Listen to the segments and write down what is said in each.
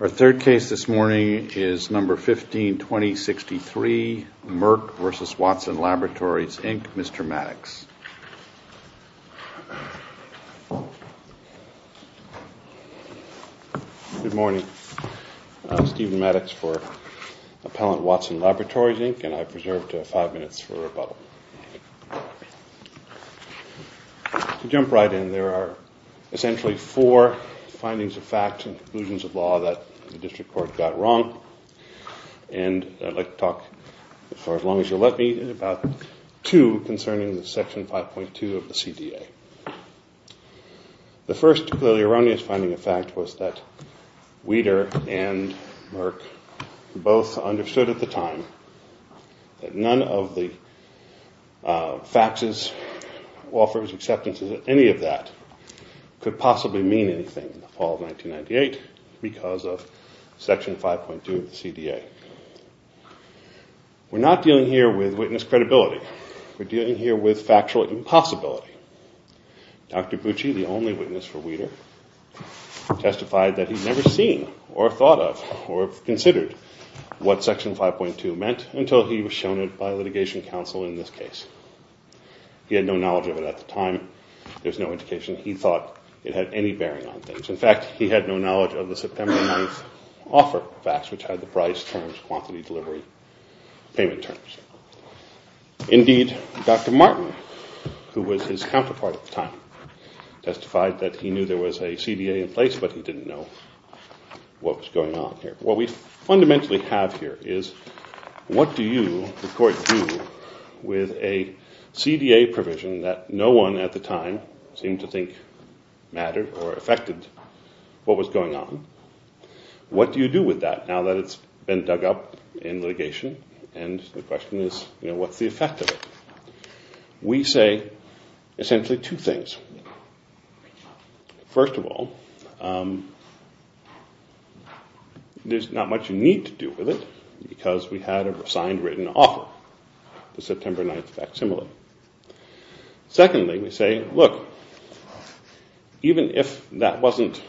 Our third case this morning is No. 15-2063, Merck v. Watson Laboratories Inc., Mr. Maddox. Good morning. I'm Stephen Maddox for Appellant Watson Laboratories Inc. and I've reserved five minutes for rebuttal. To jump right in, there are essentially four findings of fact and conclusions of law that the District Court got wrong. I'd like to talk for as long as you'll let me about two concerning Section 5.2 of the CDA. The first, clearly erroneous, finding of fact was that Weider and Merck both understood at the time that none of the faxes, offers, We're not dealing here with witness credibility. We're dealing here with factual impossibility. Dr. Bucci, the only witness for Weider, testified that he'd never seen or thought of or considered what Section 5.2 meant until he was shown it by litigation counsel in this case. He had no knowledge of it at the time. There's no indication he thought it had any bearing on things. In fact, he had no knowledge of the September 9th offer fax, which had the price terms, quantity delivery, payment terms. Indeed, Dr. Martin, who was his counterpart at the time, testified that he knew there was a CDA in place, but he didn't know what was going on here. What we fundamentally have here is, what do you, the court, do with a CDA provision that no one at the time seemed to think mattered or affected what was going on? What do you do with that now that it's been dug up in litigation? And the question is, what's the effect of it? We say essentially two things. First of all, there's not much you need to do with it because we had a signed, written offer, the September 9th facsimile. Secondly, we say, look, even if that wasn't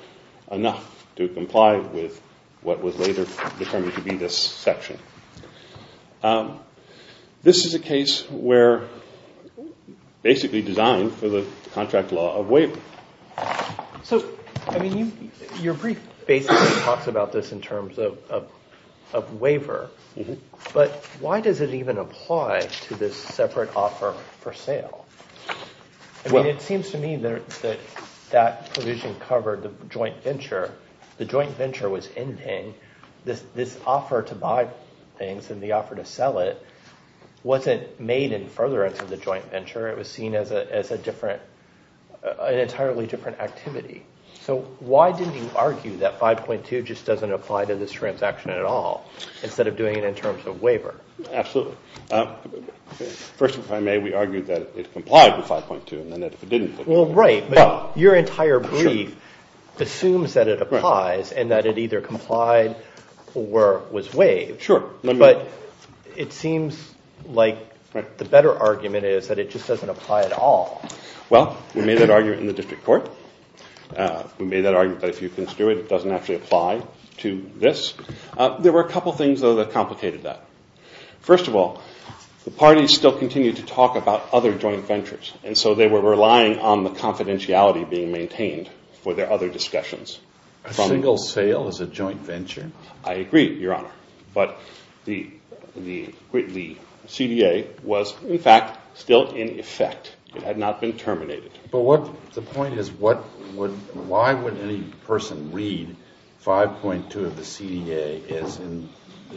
enough to comply with what was later determined to be this section, this is a case where basically designed for the contract law of waiver. So your brief basically talks about this in terms of waiver, but why does it even apply to this separate offer for sale? It seems to me that that provision covered the joint venture. The joint venture was ending. This offer to buy things and the offer to sell it wasn't made in furtherance of the joint venture. It was seen as an entirely different activity. So why didn't you argue that 5.2 just doesn't apply to this transaction at all instead of doing it in terms of waiver? Absolutely. First, if I may, we argued that it complied with 5.2. Well, right. But your entire brief assumes that it applies and that it either complied or was waived. Sure. But it seems like the better argument is that it just doesn't apply at all. Well, we made that argument in the district court. We made that argument that if you construe it, it doesn't actually apply to this. There were a couple things, though, that complicated that. First of all, the parties still continued to talk about other joint ventures, and so they were relying on the confidentiality being maintained for their other discussions. A single sale is a joint venture. I agree, Your Honor. But the CDA was, in fact, still in effect. It had not been terminated. But the point is, why would any person read 5.2 of the CDA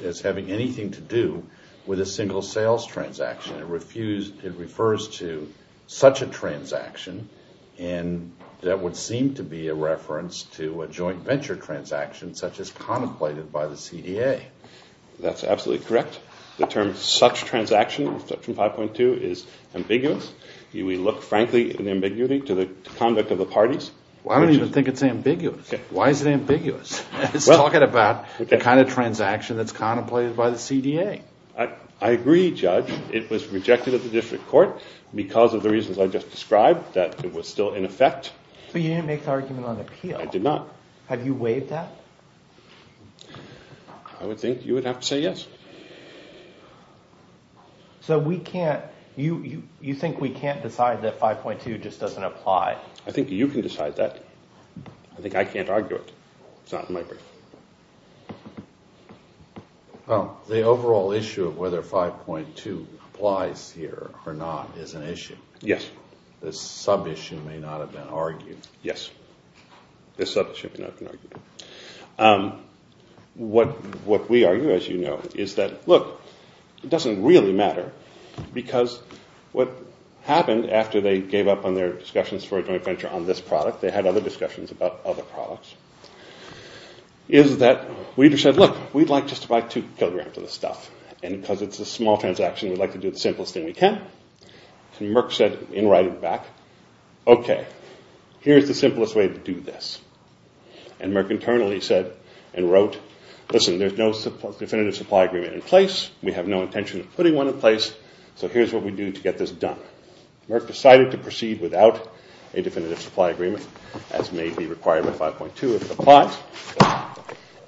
as having anything to do with a single sales transaction? It refers to such a transaction that would seem to be a reference to a joint venture transaction such as contemplated by the CDA. That's absolutely correct. The term such transaction from 5.2 is ambiguous. We look, frankly, at the ambiguity to the conduct of the parties. Well, I don't even think it's ambiguous. Why is it ambiguous? It's talking about the kind of transaction that's contemplated by the CDA. I agree, Judge. It was rejected at the district court because of the reasons I just described, that it was still in effect. But you didn't make the argument on appeal. I did not. Have you waived that? I would think you would have to say yes. So we can't – you think we can't decide that 5.2 just doesn't apply? I think you can decide that. I think I can't argue it. It's not in my brief. Well, the overall issue of whether 5.2 applies here or not is an issue. Yes. This sub-issue may not have been argued. What we argue, as you know, is that, look, it doesn't really matter because what happened after they gave up on their discussions for a joint venture on this product – they had other discussions about other products – is that Weaver said, look, we'd like just to buy two kilograms of this stuff. And because it's a small transaction, we'd like to do the simplest thing we can. And Merck said, in writing back, okay, here's what we're going to do. Here's the simplest way to do this. And Merck internally said and wrote, listen, there's no definitive supply agreement in place. We have no intention of putting one in place, so here's what we do to get this done. Merck decided to proceed without a definitive supply agreement, as may be required with 5.2 if it applies.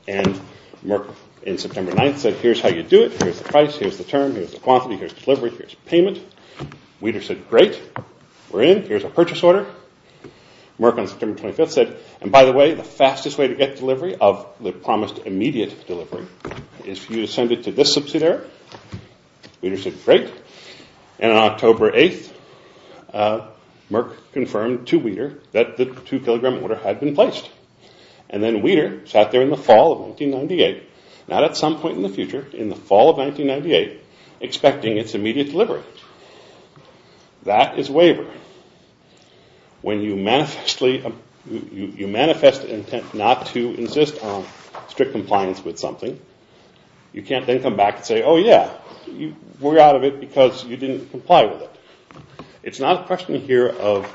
And Merck, in September 9th, said, here's how you do it. Here's the price. Here's the term. Here's the quantity. Here's the delivery. Here's the payment. Weaver said, great. We're in. Here's our purchase order. Merck, on September 25th, said, and by the way, the fastest way to get delivery of the promised immediate delivery is for you to send it to this subsidiary. Weaver said, great. And on October 8th, Merck confirmed to Weaver that the two-kilogram order had been placed. And then Weaver sat there in the fall of 1998, not at some point in the future, in the fall of 1998, expecting its immediate delivery. That is wavering. When you manifest intent not to insist on strict compliance with something, you can't then come back and say, oh yeah, we're out of it because you didn't comply with it. It's not a question here of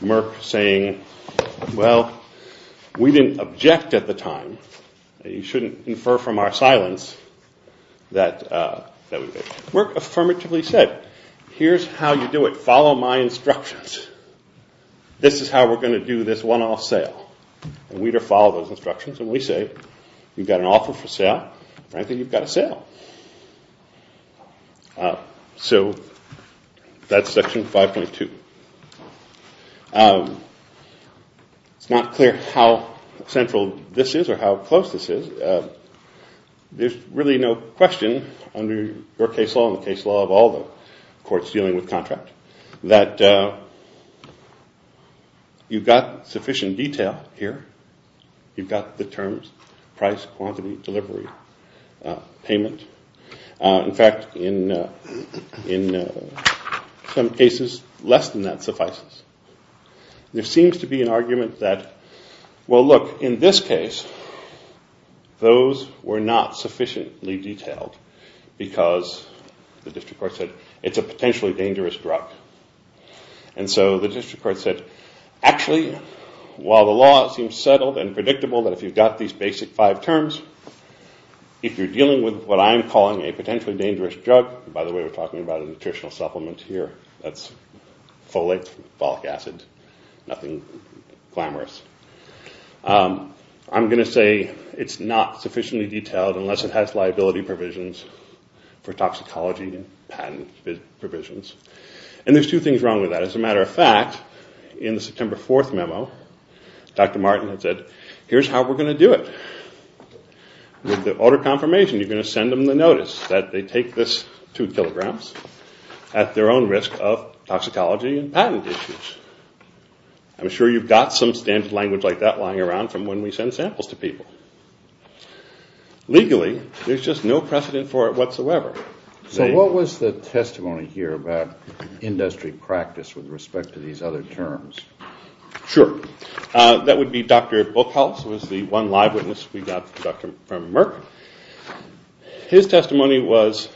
Merck saying, well, we didn't object at the time. You shouldn't infer from our silence that we did. Merck affirmatively said, here's how you do it. Follow my instructions. This is how we're going to do this one-off sale. And Weaver followed those instructions and Weaver said, you've got an offer for sale. Frankly, you've got a sale. So that's Section 5.2. It's not clear how central this is or how close this is. There's really no question under your case law and the case law of all the courts dealing with contract that you've got sufficient detail here. You've got the terms, price, quantity, delivery, payment. In fact, in some cases, less than that suffices. There seems to be an argument that, well, look, in this case, those were not sufficiently detailed because the district court said, it's a potentially dangerous drug. And so the district court said, actually, while the law seems settled and predictable that if you've got these basic five terms, if you're dealing with what I'm calling a potentially dangerous drug, by the way, we're talking about a nutritional supplement here. That's folate, folic acid, nothing glamorous. I'm going to say it's not sufficiently detailed unless it has liability provisions for toxicology and patent provisions. And there's two things wrong with that. As a matter of fact, in the September 4th memo, Dr. Martin had said, here's how we're going to do it. With the order of confirmation, you're going to send them the notice that they take this two kilograms at their own risk of toxicology and patent issues. I'm sure you've got some standard language like that lying around from when we send samples to people. Legally, there's just no precedent for it whatsoever. So what was the testimony here about industry practice with respect to these other terms? Sure. That would be Dr. Buchholz, who was the one live witness we got from Merck. His testimony was,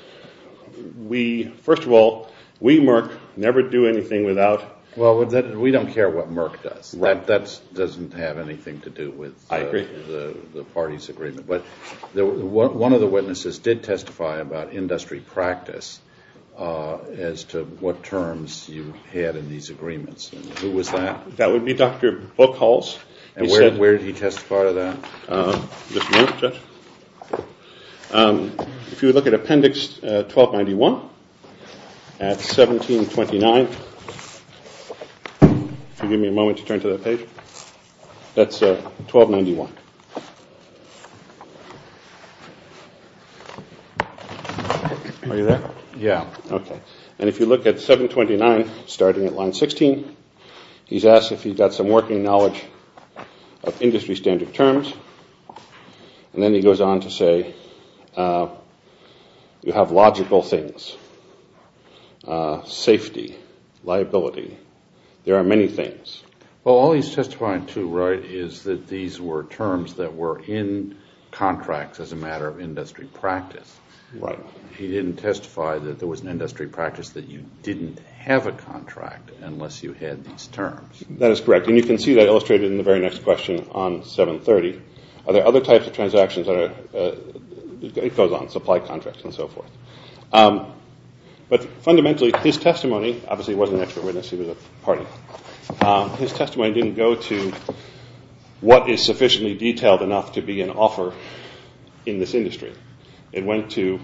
first of all, we Merck never do anything without… Well, we don't care what Merck does. That doesn't have anything to do with the party's agreement. But one of the witnesses did testify about industry practice as to what terms you had in these agreements Who was that? That would be Dr. Buchholz. And where did he testify to that? Just a minute, Judge. If you look at Appendix 1291 at 1729. If you'll give me a moment to turn to that page. That's 1291. Are you there? Yeah. Okay. And if you look at 729, starting at line 16, he's asked if he's got some working knowledge of industry standard terms. And then he goes on to say you have logical things, safety, liability. There are many things. Well, all he's testifying to, right, is that these were terms that were in contracts as a matter of industry practice. Right. But he didn't testify that there was an industry practice that you didn't have a contract unless you had these terms. That is correct. And you can see that illustrated in the very next question on 730. Are there other types of transactions that are goes on, supply contracts and so forth. But fundamentally, his testimony obviously wasn't an expert witness. He was a party. His testimony didn't go to what is sufficiently detailed enough to be an offer in this industry. It went to,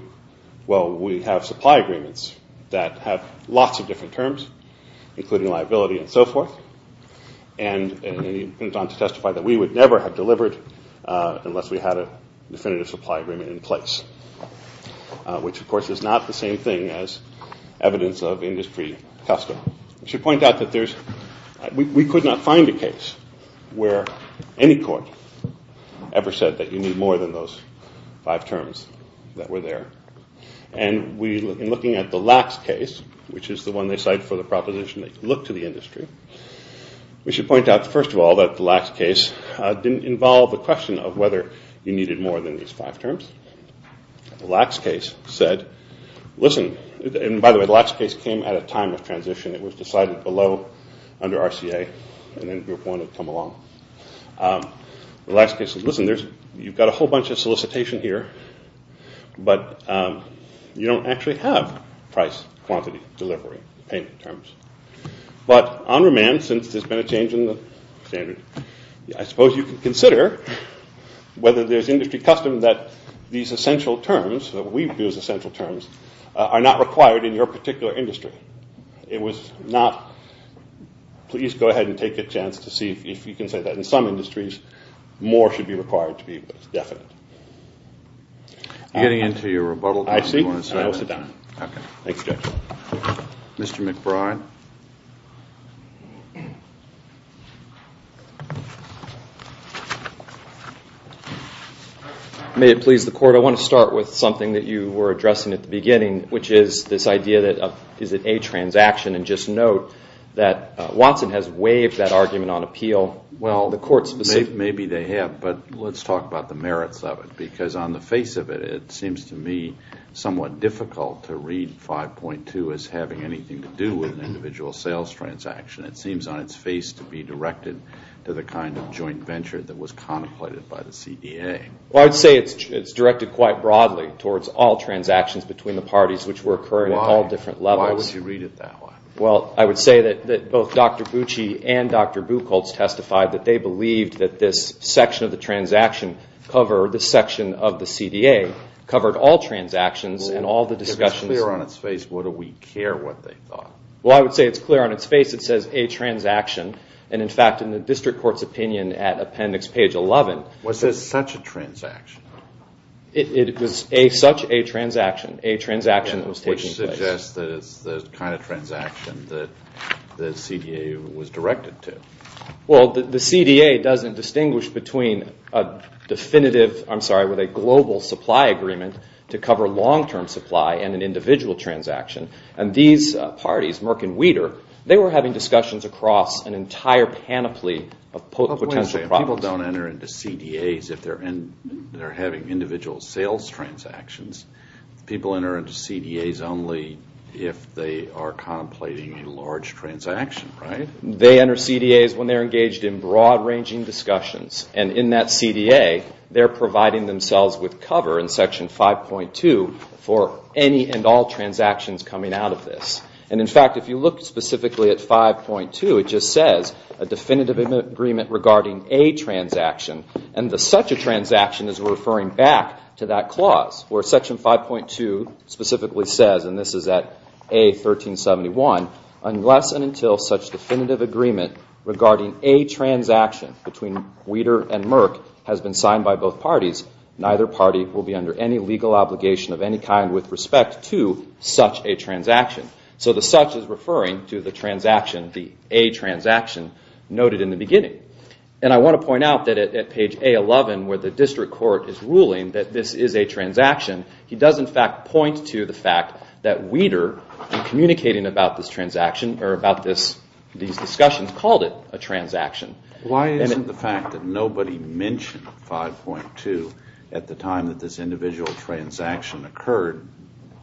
well, we have supply agreements that have lots of different terms, including liability and so forth. And he went on to testify that we would never have delivered unless we had a definitive supply agreement in place, which, of course, is not the same thing as evidence of industry custom. I should point out that we could not find a case where any court ever said that you need more than those five terms that were there. And in looking at the Lacks case, which is the one they cite for the proposition that you look to the industry, we should point out, first of all, that the Lacks case didn't involve a question of whether you needed more than these five terms. The Lacks case said, listen, and by the way, the Lacks case came at a time of transition. It was decided below under RCA and then Group 1 had come along. The Lacks case said, listen, you've got a whole bunch of solicitation here, but you don't actually have price, quantity, delivery, payment terms. But on remand, since there's been a change in the standard, I suppose you can consider whether there's industry custom that these essential terms, that we view as essential terms, are not required in your particular industry. It was not. Please go ahead and take a chance to see if you can say that in some industries, more should be required to be definite. Getting into your rebuttal. I see. I will sit down. Okay. Thank you, Judge. Mr. McBride. I want to start with something that you were addressing at the beginning, which is this idea that is it a transaction? And just note that Watson has waived that argument on appeal. Maybe they have, but let's talk about the merits of it. Because on the face of it, it seems to me somewhat difficult to read 5.2 as having anything to do with an individual sales transaction. It seems on its face to be directed to the kind of joint venture that was contemplated by the CDA. Well, I would say it's directed quite broadly towards all transactions between the parties, which were occurring at all different levels. Why would you read it that way? Well, I would say that both Dr. Bucci and Dr. Buchholz testified that they believed that this section of the transaction covered, this section of the CDA, covered all transactions and all the discussions. If it's clear on its face, what do we care what they thought? Well, I would say it's clear on its face. It says a transaction. And, in fact, in the district court's opinion at appendix page 11. Was this such a transaction? It was such a transaction, a transaction that was taking place. Which suggests that it's the kind of transaction that the CDA was directed to. Well, the CDA doesn't distinguish between a definitive, I'm sorry, with a global supply agreement to cover long-term supply and an individual transaction. And these parties, Merck and Weider, People don't enter into CDAs if they're having individual sales transactions. People enter into CDAs only if they are contemplating a large transaction, right? They enter CDAs when they're engaged in broad-ranging discussions. And in that CDA, they're providing themselves with cover in section 5.2 for any and all transactions coming out of this. And, in fact, if you look specifically at 5.2, it just says a definitive agreement regarding a transaction. And the such a transaction is referring back to that clause, where section 5.2 specifically says, and this is at A1371, unless and until such definitive agreement regarding a transaction between Weider and Merck has been signed by both parties, neither party will be under any legal obligation of any kind with respect to such a transaction. So the such is referring to the transaction, the A transaction, noted in the beginning. And I want to point out that at page A11, where the district court is ruling that this is a transaction, he does, in fact, point to the fact that Weider, in communicating about this transaction, or about these discussions, called it a transaction. Why isn't the fact that nobody mentioned 5.2 at the time that this individual transaction occurred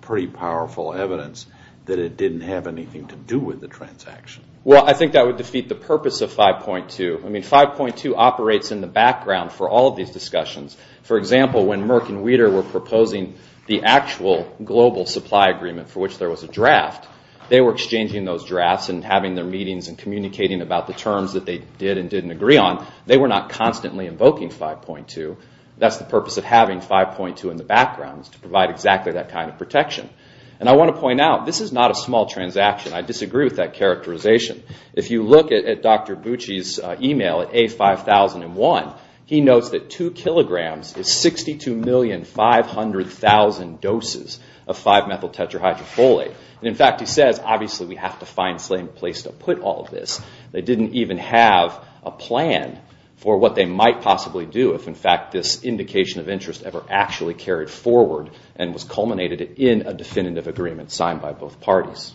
pretty powerful evidence that it didn't have anything to do with the transaction? Well, I think that would defeat the purpose of 5.2. I mean, 5.2 operates in the background for all of these discussions. For example, when Merck and Weider were proposing the actual global supply agreement for which there was a draft, they were exchanging those drafts and having their meetings and communicating about the terms that they did and didn't agree on. They were not constantly invoking 5.2. That's the purpose of having 5.2 in the background, is to provide exactly that kind of protection. And I want to point out, this is not a small transaction. I disagree with that characterization. If you look at Dr. Bucci's email at A5001, he notes that 2 kilograms is 62,500,000 doses of 5-methyl tetrahydrofolate. In fact, he says, obviously, we have to find a place to put all of this. They didn't even have a plan for what they might possibly do if, in fact, this indication of interest ever actually carried forward and was culminated in a definitive agreement signed by both parties.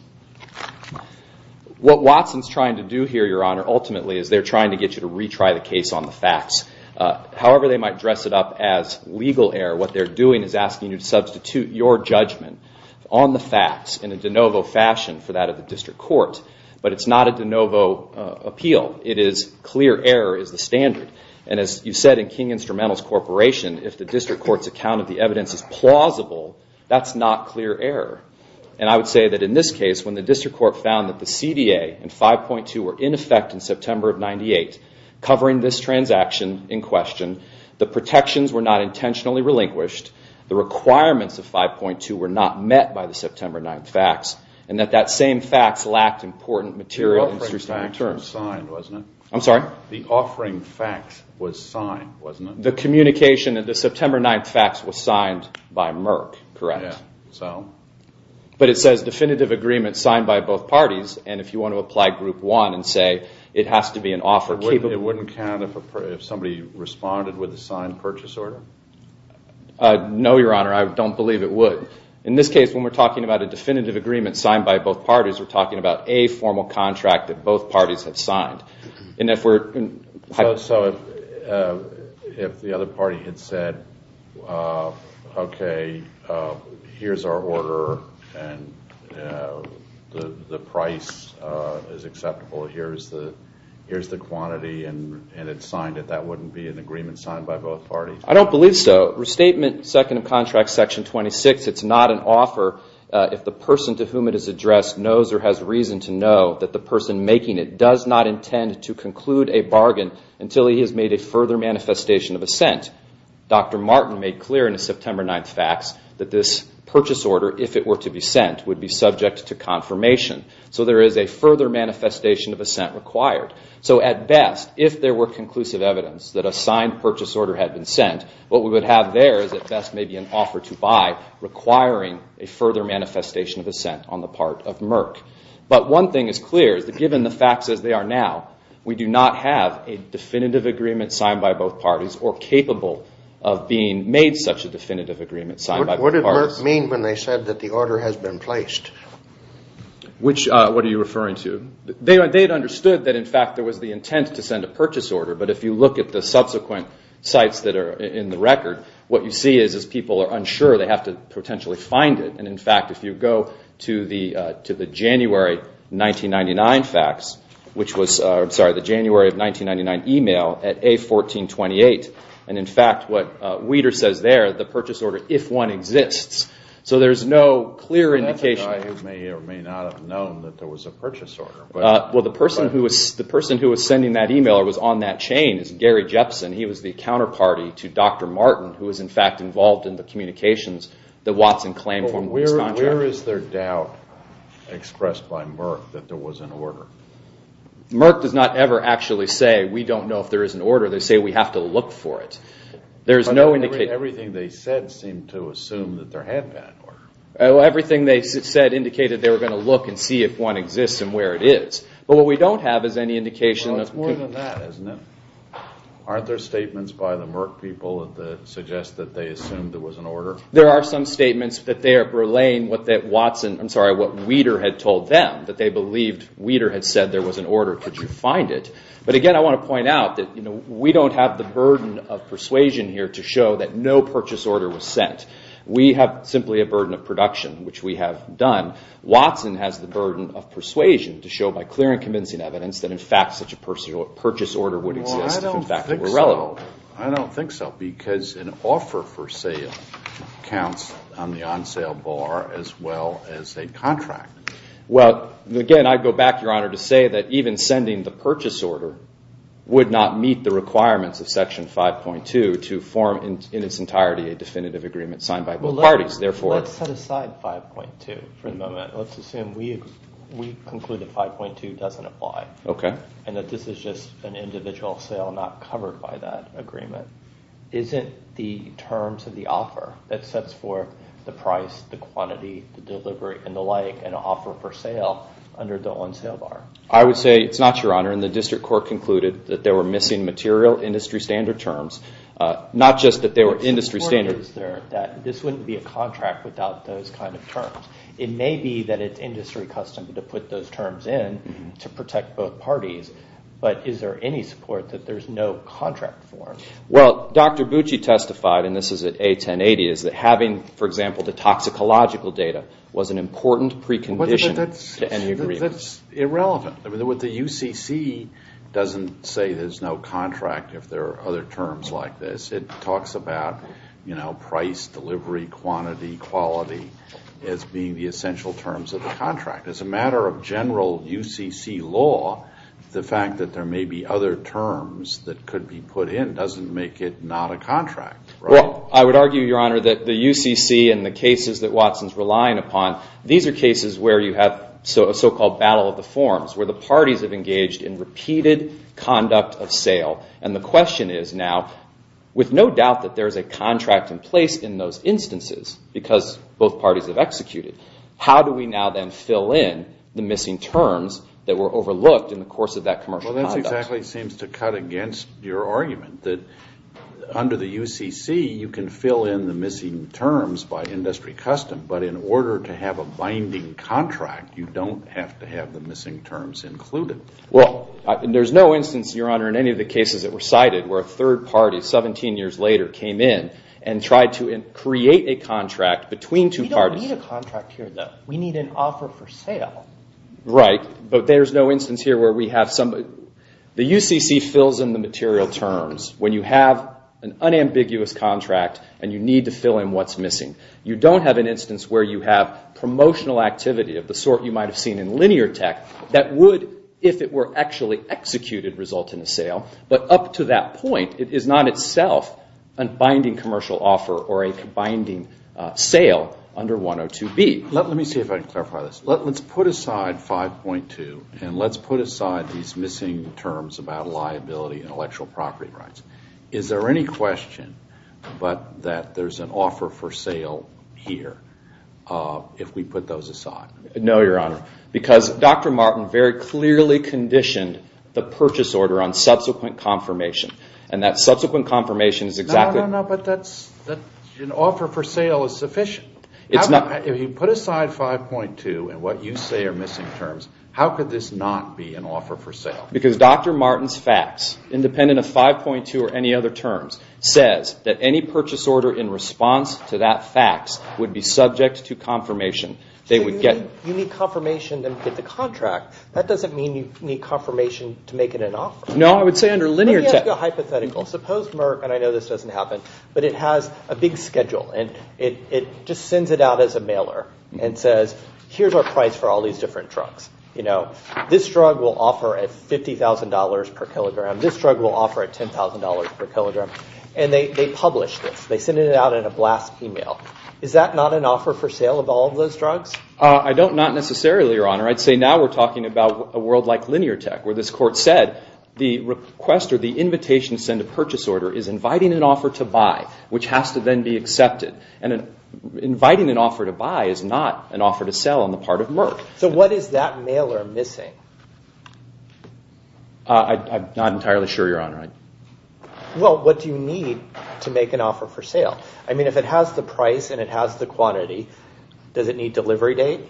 What Watson's trying to do here, Your Honor, ultimately, is they're trying to get you to retry the case on the facts. However they might dress it up as legal error, what they're doing is asking you to substitute your judgment on the facts in a de novo fashion for that of the district court. But it's not a de novo appeal. It is clear error is the standard. And as you said in King Instrumentals Corporation, if the district court's account of the evidence is plausible, that's not clear error. And I would say that in this case, when the district court found that the CDA and 5.2 were in effect in September of 1998, covering this transaction in question, the protections were not intentionally relinquished, the requirements of 5.2 were not met by the September 9 facts, and that that same facts lacked important material interest to return. The offering facts were signed, wasn't it? I'm sorry? The offering facts was signed, wasn't it? The communication of the September 9 facts was signed by Merck, correct. Yeah, so? But it says definitive agreement signed by both parties, and if you want to apply Group 1 and say it has to be an offer capable. It wouldn't count if somebody responded with a signed purchase order? No, Your Honor, I don't believe it would. In this case, when we're talking about a definitive agreement signed by both parties, we're talking about a formal contract that both parties have signed. So if the other party had said, okay, here's our order, and the price is acceptable, here's the quantity, and it's signed, that wouldn't be an agreement signed by both parties? I don't believe so. Restatement, second of contract, section 26, it's not an offer if the person to whom it is addressed knows or has reason to know that the person making it does not intend to conclude a bargain until he has made a further manifestation of assent. Dr. Martin made clear in his September 9 facts that this purchase order, if it were to be sent, would be subject to confirmation. So there is a further manifestation of assent required. So at best, if there were conclusive evidence that a signed purchase order had been sent, what we would have there is at best maybe an offer to buy requiring a further manifestation of assent on the part of Merck. But one thing is clear is that given the facts as they are now, we do not have a definitive agreement signed by both parties or capable of being made such a definitive agreement signed by both parties. What did Merck mean when they said that the order has been placed? What are you referring to? They had understood that in fact there was the intent to send a purchase order, but if you look at the subsequent sites that are in the record, what you see is as people are unsure, they have to potentially find it. And in fact, if you go to the January 1999 facts, which was the January of 1999 email at A1428, and in fact what Weider says there, the purchase order, if one exists. So there's no clear indication. That's a guy who may or may not have known that there was a purchase order. Well, the person who was sending that email or was on that chain is Gary Jepson. He was the counterparty to Dr. Martin, who was in fact involved in the communications that Watson claimed. Where is their doubt expressed by Merck that there was an order? Merck does not ever actually say we don't know if there is an order. They say we have to look for it. Everything they said seemed to assume that there had been an order. Everything they said indicated they were going to look and see if one exists and where it is. But what we don't have is any indication. Well, it's more than that, isn't it? Aren't there statements by the Merck people that suggest that they assumed there was an order? There are some statements that they are relaying what Weider had told them, that they believed Weider had said there was an order. Could you find it? But again, I want to point out that we don't have the burden of persuasion here to show that no purchase order was sent. We have simply a burden of production, which we have done. Watson has the burden of persuasion to show by clear and convincing evidence that in fact such a purchase order would exist if in fact it were relevant. Well, I don't think so. I don't think so because an offer for sale counts on the on-sale bar as well as a contract. Well, again, I go back, Your Honor, to say that even sending the purchase order would not meet the requirements of Section 5.2 to form in its entirety a definitive agreement signed by both parties. Let's set aside 5.2 for the moment. Let's assume we conclude that 5.2 doesn't apply. Okay. And that this is just an individual sale not covered by that agreement. Isn't the terms of the offer that sets forth the price, the quantity, the delivery, and the like an offer for sale under the on-sale bar? I would say it's not, Your Honor, and the District Court concluded that there were missing material industry standard terms, not just that there were industry standards. The point is there that this wouldn't be a contract without those kind of terms. It may be that it's industry custom to put those terms in to protect both parties, but is there any support that there's no contract for? Well, Dr. Bucci testified, and this is at A1080, is that having, for example, the toxicological data was an important precondition to any agreement. That's irrelevant. The UCC doesn't say there's no contract if there are other terms like this. It talks about price, delivery, quantity, quality as being the essential terms of the contract. As a matter of general UCC law, the fact that there may be other terms that could be put in doesn't make it not a contract. Well, I would argue, Your Honor, that the UCC and the cases that Watson's relying upon, these are cases where you have a so-called battle of the forms, where the parties have engaged in repeated conduct of sale. And the question is now, with no doubt that there is a contract in place in those instances because both parties have executed, how do we now then fill in the missing terms that were overlooked in the course of that commercial conduct? Well, that exactly seems to cut against your argument that under the UCC you can fill in the missing terms by industry custom, but in order to have a binding contract, you don't have to have the missing terms included. Well, there's no instance, Your Honor, in any of the cases that were cited where a third party 17 years later came in and tried to create a contract between two parties. We don't need a contract here, though. We need an offer for sale. Right, but there's no instance here where we have somebody. The UCC fills in the material terms when you have an unambiguous contract and you need to fill in what's missing. You don't have an instance where you have promotional activity of the sort you might have seen in linear tech that would, if it were actually executed, result in a sale, but up to that point it is not itself a binding commercial offer or a binding sale under 102B. Let me see if I can clarify this. Let's put aside 5.2 and let's put aside these missing terms about liability and intellectual property rights. Is there any question that there's an offer for sale here if we put those aside? No, Your Honor, because Dr. Martin very clearly conditioned the purchase order on subsequent confirmation. And that subsequent confirmation is exactly... No, no, no, but an offer for sale is sufficient. If you put aside 5.2 and what you say are missing terms, how could this not be an offer for sale? Because Dr. Martin's fax, independent of 5.2 or any other terms, says that any purchase order in response to that fax would be subject to confirmation. So you need confirmation to get the contract. That doesn't mean you need confirmation to make it an offer. No, I would say under linear tech... Let me ask you a hypothetical. Suppose Merck, and I know this doesn't happen, but it has a big schedule and it just sends it out as a mailer and says, here's our price for all these different drugs. This drug will offer at $50,000 per kilogram. This drug will offer at $10,000 per kilogram. And they publish this. They send it out in a blast email. Is that not an offer for sale of all of those drugs? Not necessarily, Your Honor. I'd say now we're talking about a world like linear tech where this court said the request or the invitation to send a purchase order is inviting an offer to buy, which has to then be accepted. And inviting an offer to buy is not an offer to sell on the part of Merck. So what is that mailer missing? I'm not entirely sure, Your Honor. Well, what do you need to make an offer for sale? I mean, if it has the price and it has the quantity, does it need delivery date?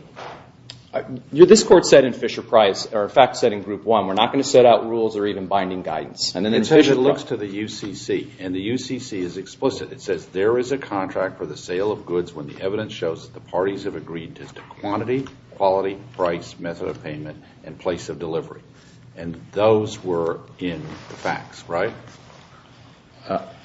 This court said in Fisher Price, or in fact said in Group 1, we're not going to set out rules or even binding guidance. And then Fisher looks to the UCC, and the UCC is explicit. It says there is a contract for the sale of goods when the evidence shows that the parties have agreed to quantity, quality, price, method of payment, and place of delivery. And those were in the facts, right?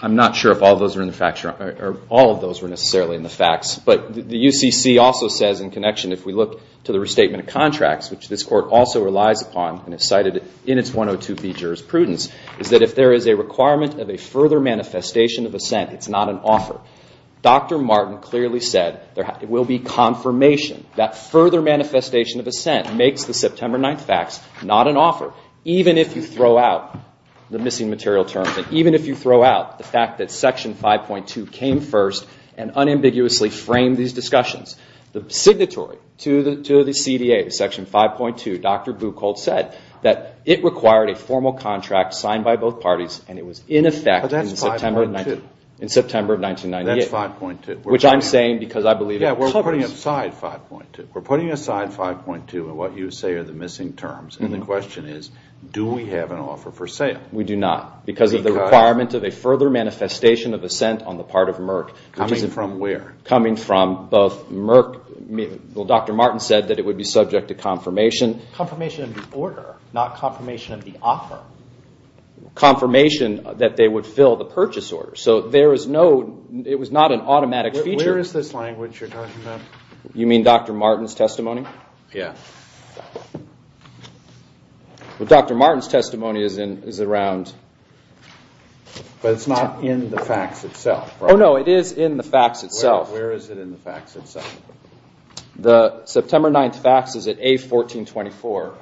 I'm not sure if all of those are in the facts, or all of those were necessarily in the facts. But the UCC also says in connection, if we look to the restatement of contracts, which this court also relies upon and has cited in its 102B jurisprudence, is that if there is a requirement of a further manifestation of assent, it's not an offer. Dr. Martin clearly said there will be confirmation. Even if you throw out the missing material terms, and even if you throw out the fact that Section 5.2 came first and unambiguously framed these discussions, the signatory to the CDA, Section 5.2, Dr. Buchholz said, that it required a formal contract signed by both parties, and it was in effect in September of 1998. That's 5.2. Which I'm saying because I believe it covers... Yeah, we're putting aside 5.2. We're putting aside 5.2 and what you say are the missing terms. And the question is, do we have an offer for sale? We do not because of the requirement of a further manifestation of assent on the part of Merck. Coming from where? Coming from both Merck. Dr. Martin said that it would be subject to confirmation. Confirmation of the order, not confirmation of the offer. Confirmation that they would fill the purchase order. So there is no, it was not an automatic feature. Where is this language you're talking about? You mean Dr. Martin's testimony? Yeah. Dr. Martin's testimony is around... But it's not in the fax itself, right? Oh, no, it is in the fax itself. Where is it in the fax itself? The September 9th fax is at A1424.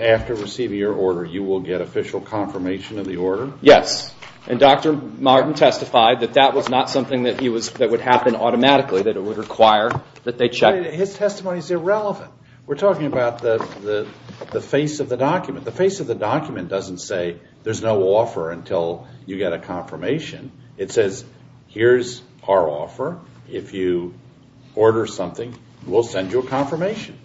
After receiving your order, you will get official confirmation of the order? Yes. And Dr. Martin testified that that was not something that would happen automatically, that it would require that they check. His testimony is irrelevant. We're talking about the face of the document. The document doesn't say, there's no offer until you get a confirmation. It says, here's our offer. If you order something, we'll send you a confirmation.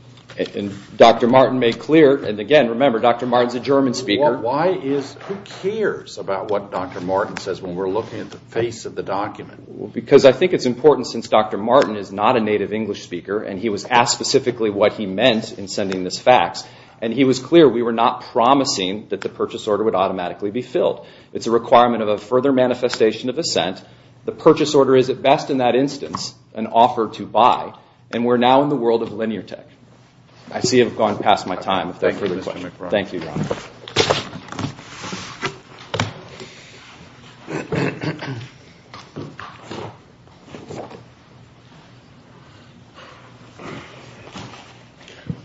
And Dr. Martin made clear, and again, remember, Dr. Martin's a German speaker. Why is, who cares about what Dr. Martin says when we're looking at the face of the document? Because I think it's important since Dr. Martin is not a native English speaker and he was asked specifically what he meant in sending this fax. And he was clear, we were not promising that the purchase order would automatically be filled. It's a requirement of a further manifestation of assent. The purchase order is, at best in that instance, an offer to buy. And we're now in the world of linear tech. I see I've gone past my time. Thank you, Mr. McBride. Thank you, Your Honor.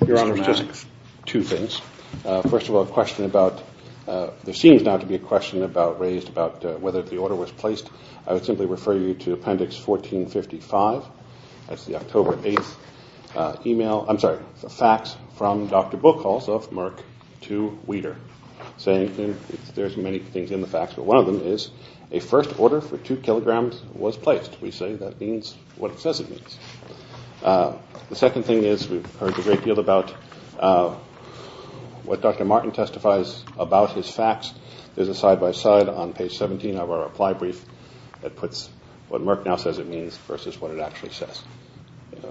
Your Honor, there's just two things. First of all, a question about, there seems now to be a question about, raised about whether the order was placed. I would simply refer you to Appendix 1455. That's the October 8th email, I'm sorry, fax from Dr. Buchholz of Merck to Weider. Saying there's many things in the fax, but one of them is a first order for two kilograms was placed. We say that means what it says it means. The second thing is we've heard a great deal about what Dr. Martin testifies about his fax. There's a side-by-side on page 17 of our reply brief that puts what Merck now says it means versus what it actually says.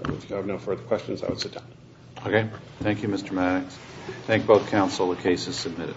If you have no further questions, I would sit down. Okay. Thank you, Mr. Maddox. Thank both counsel. The case is submitted.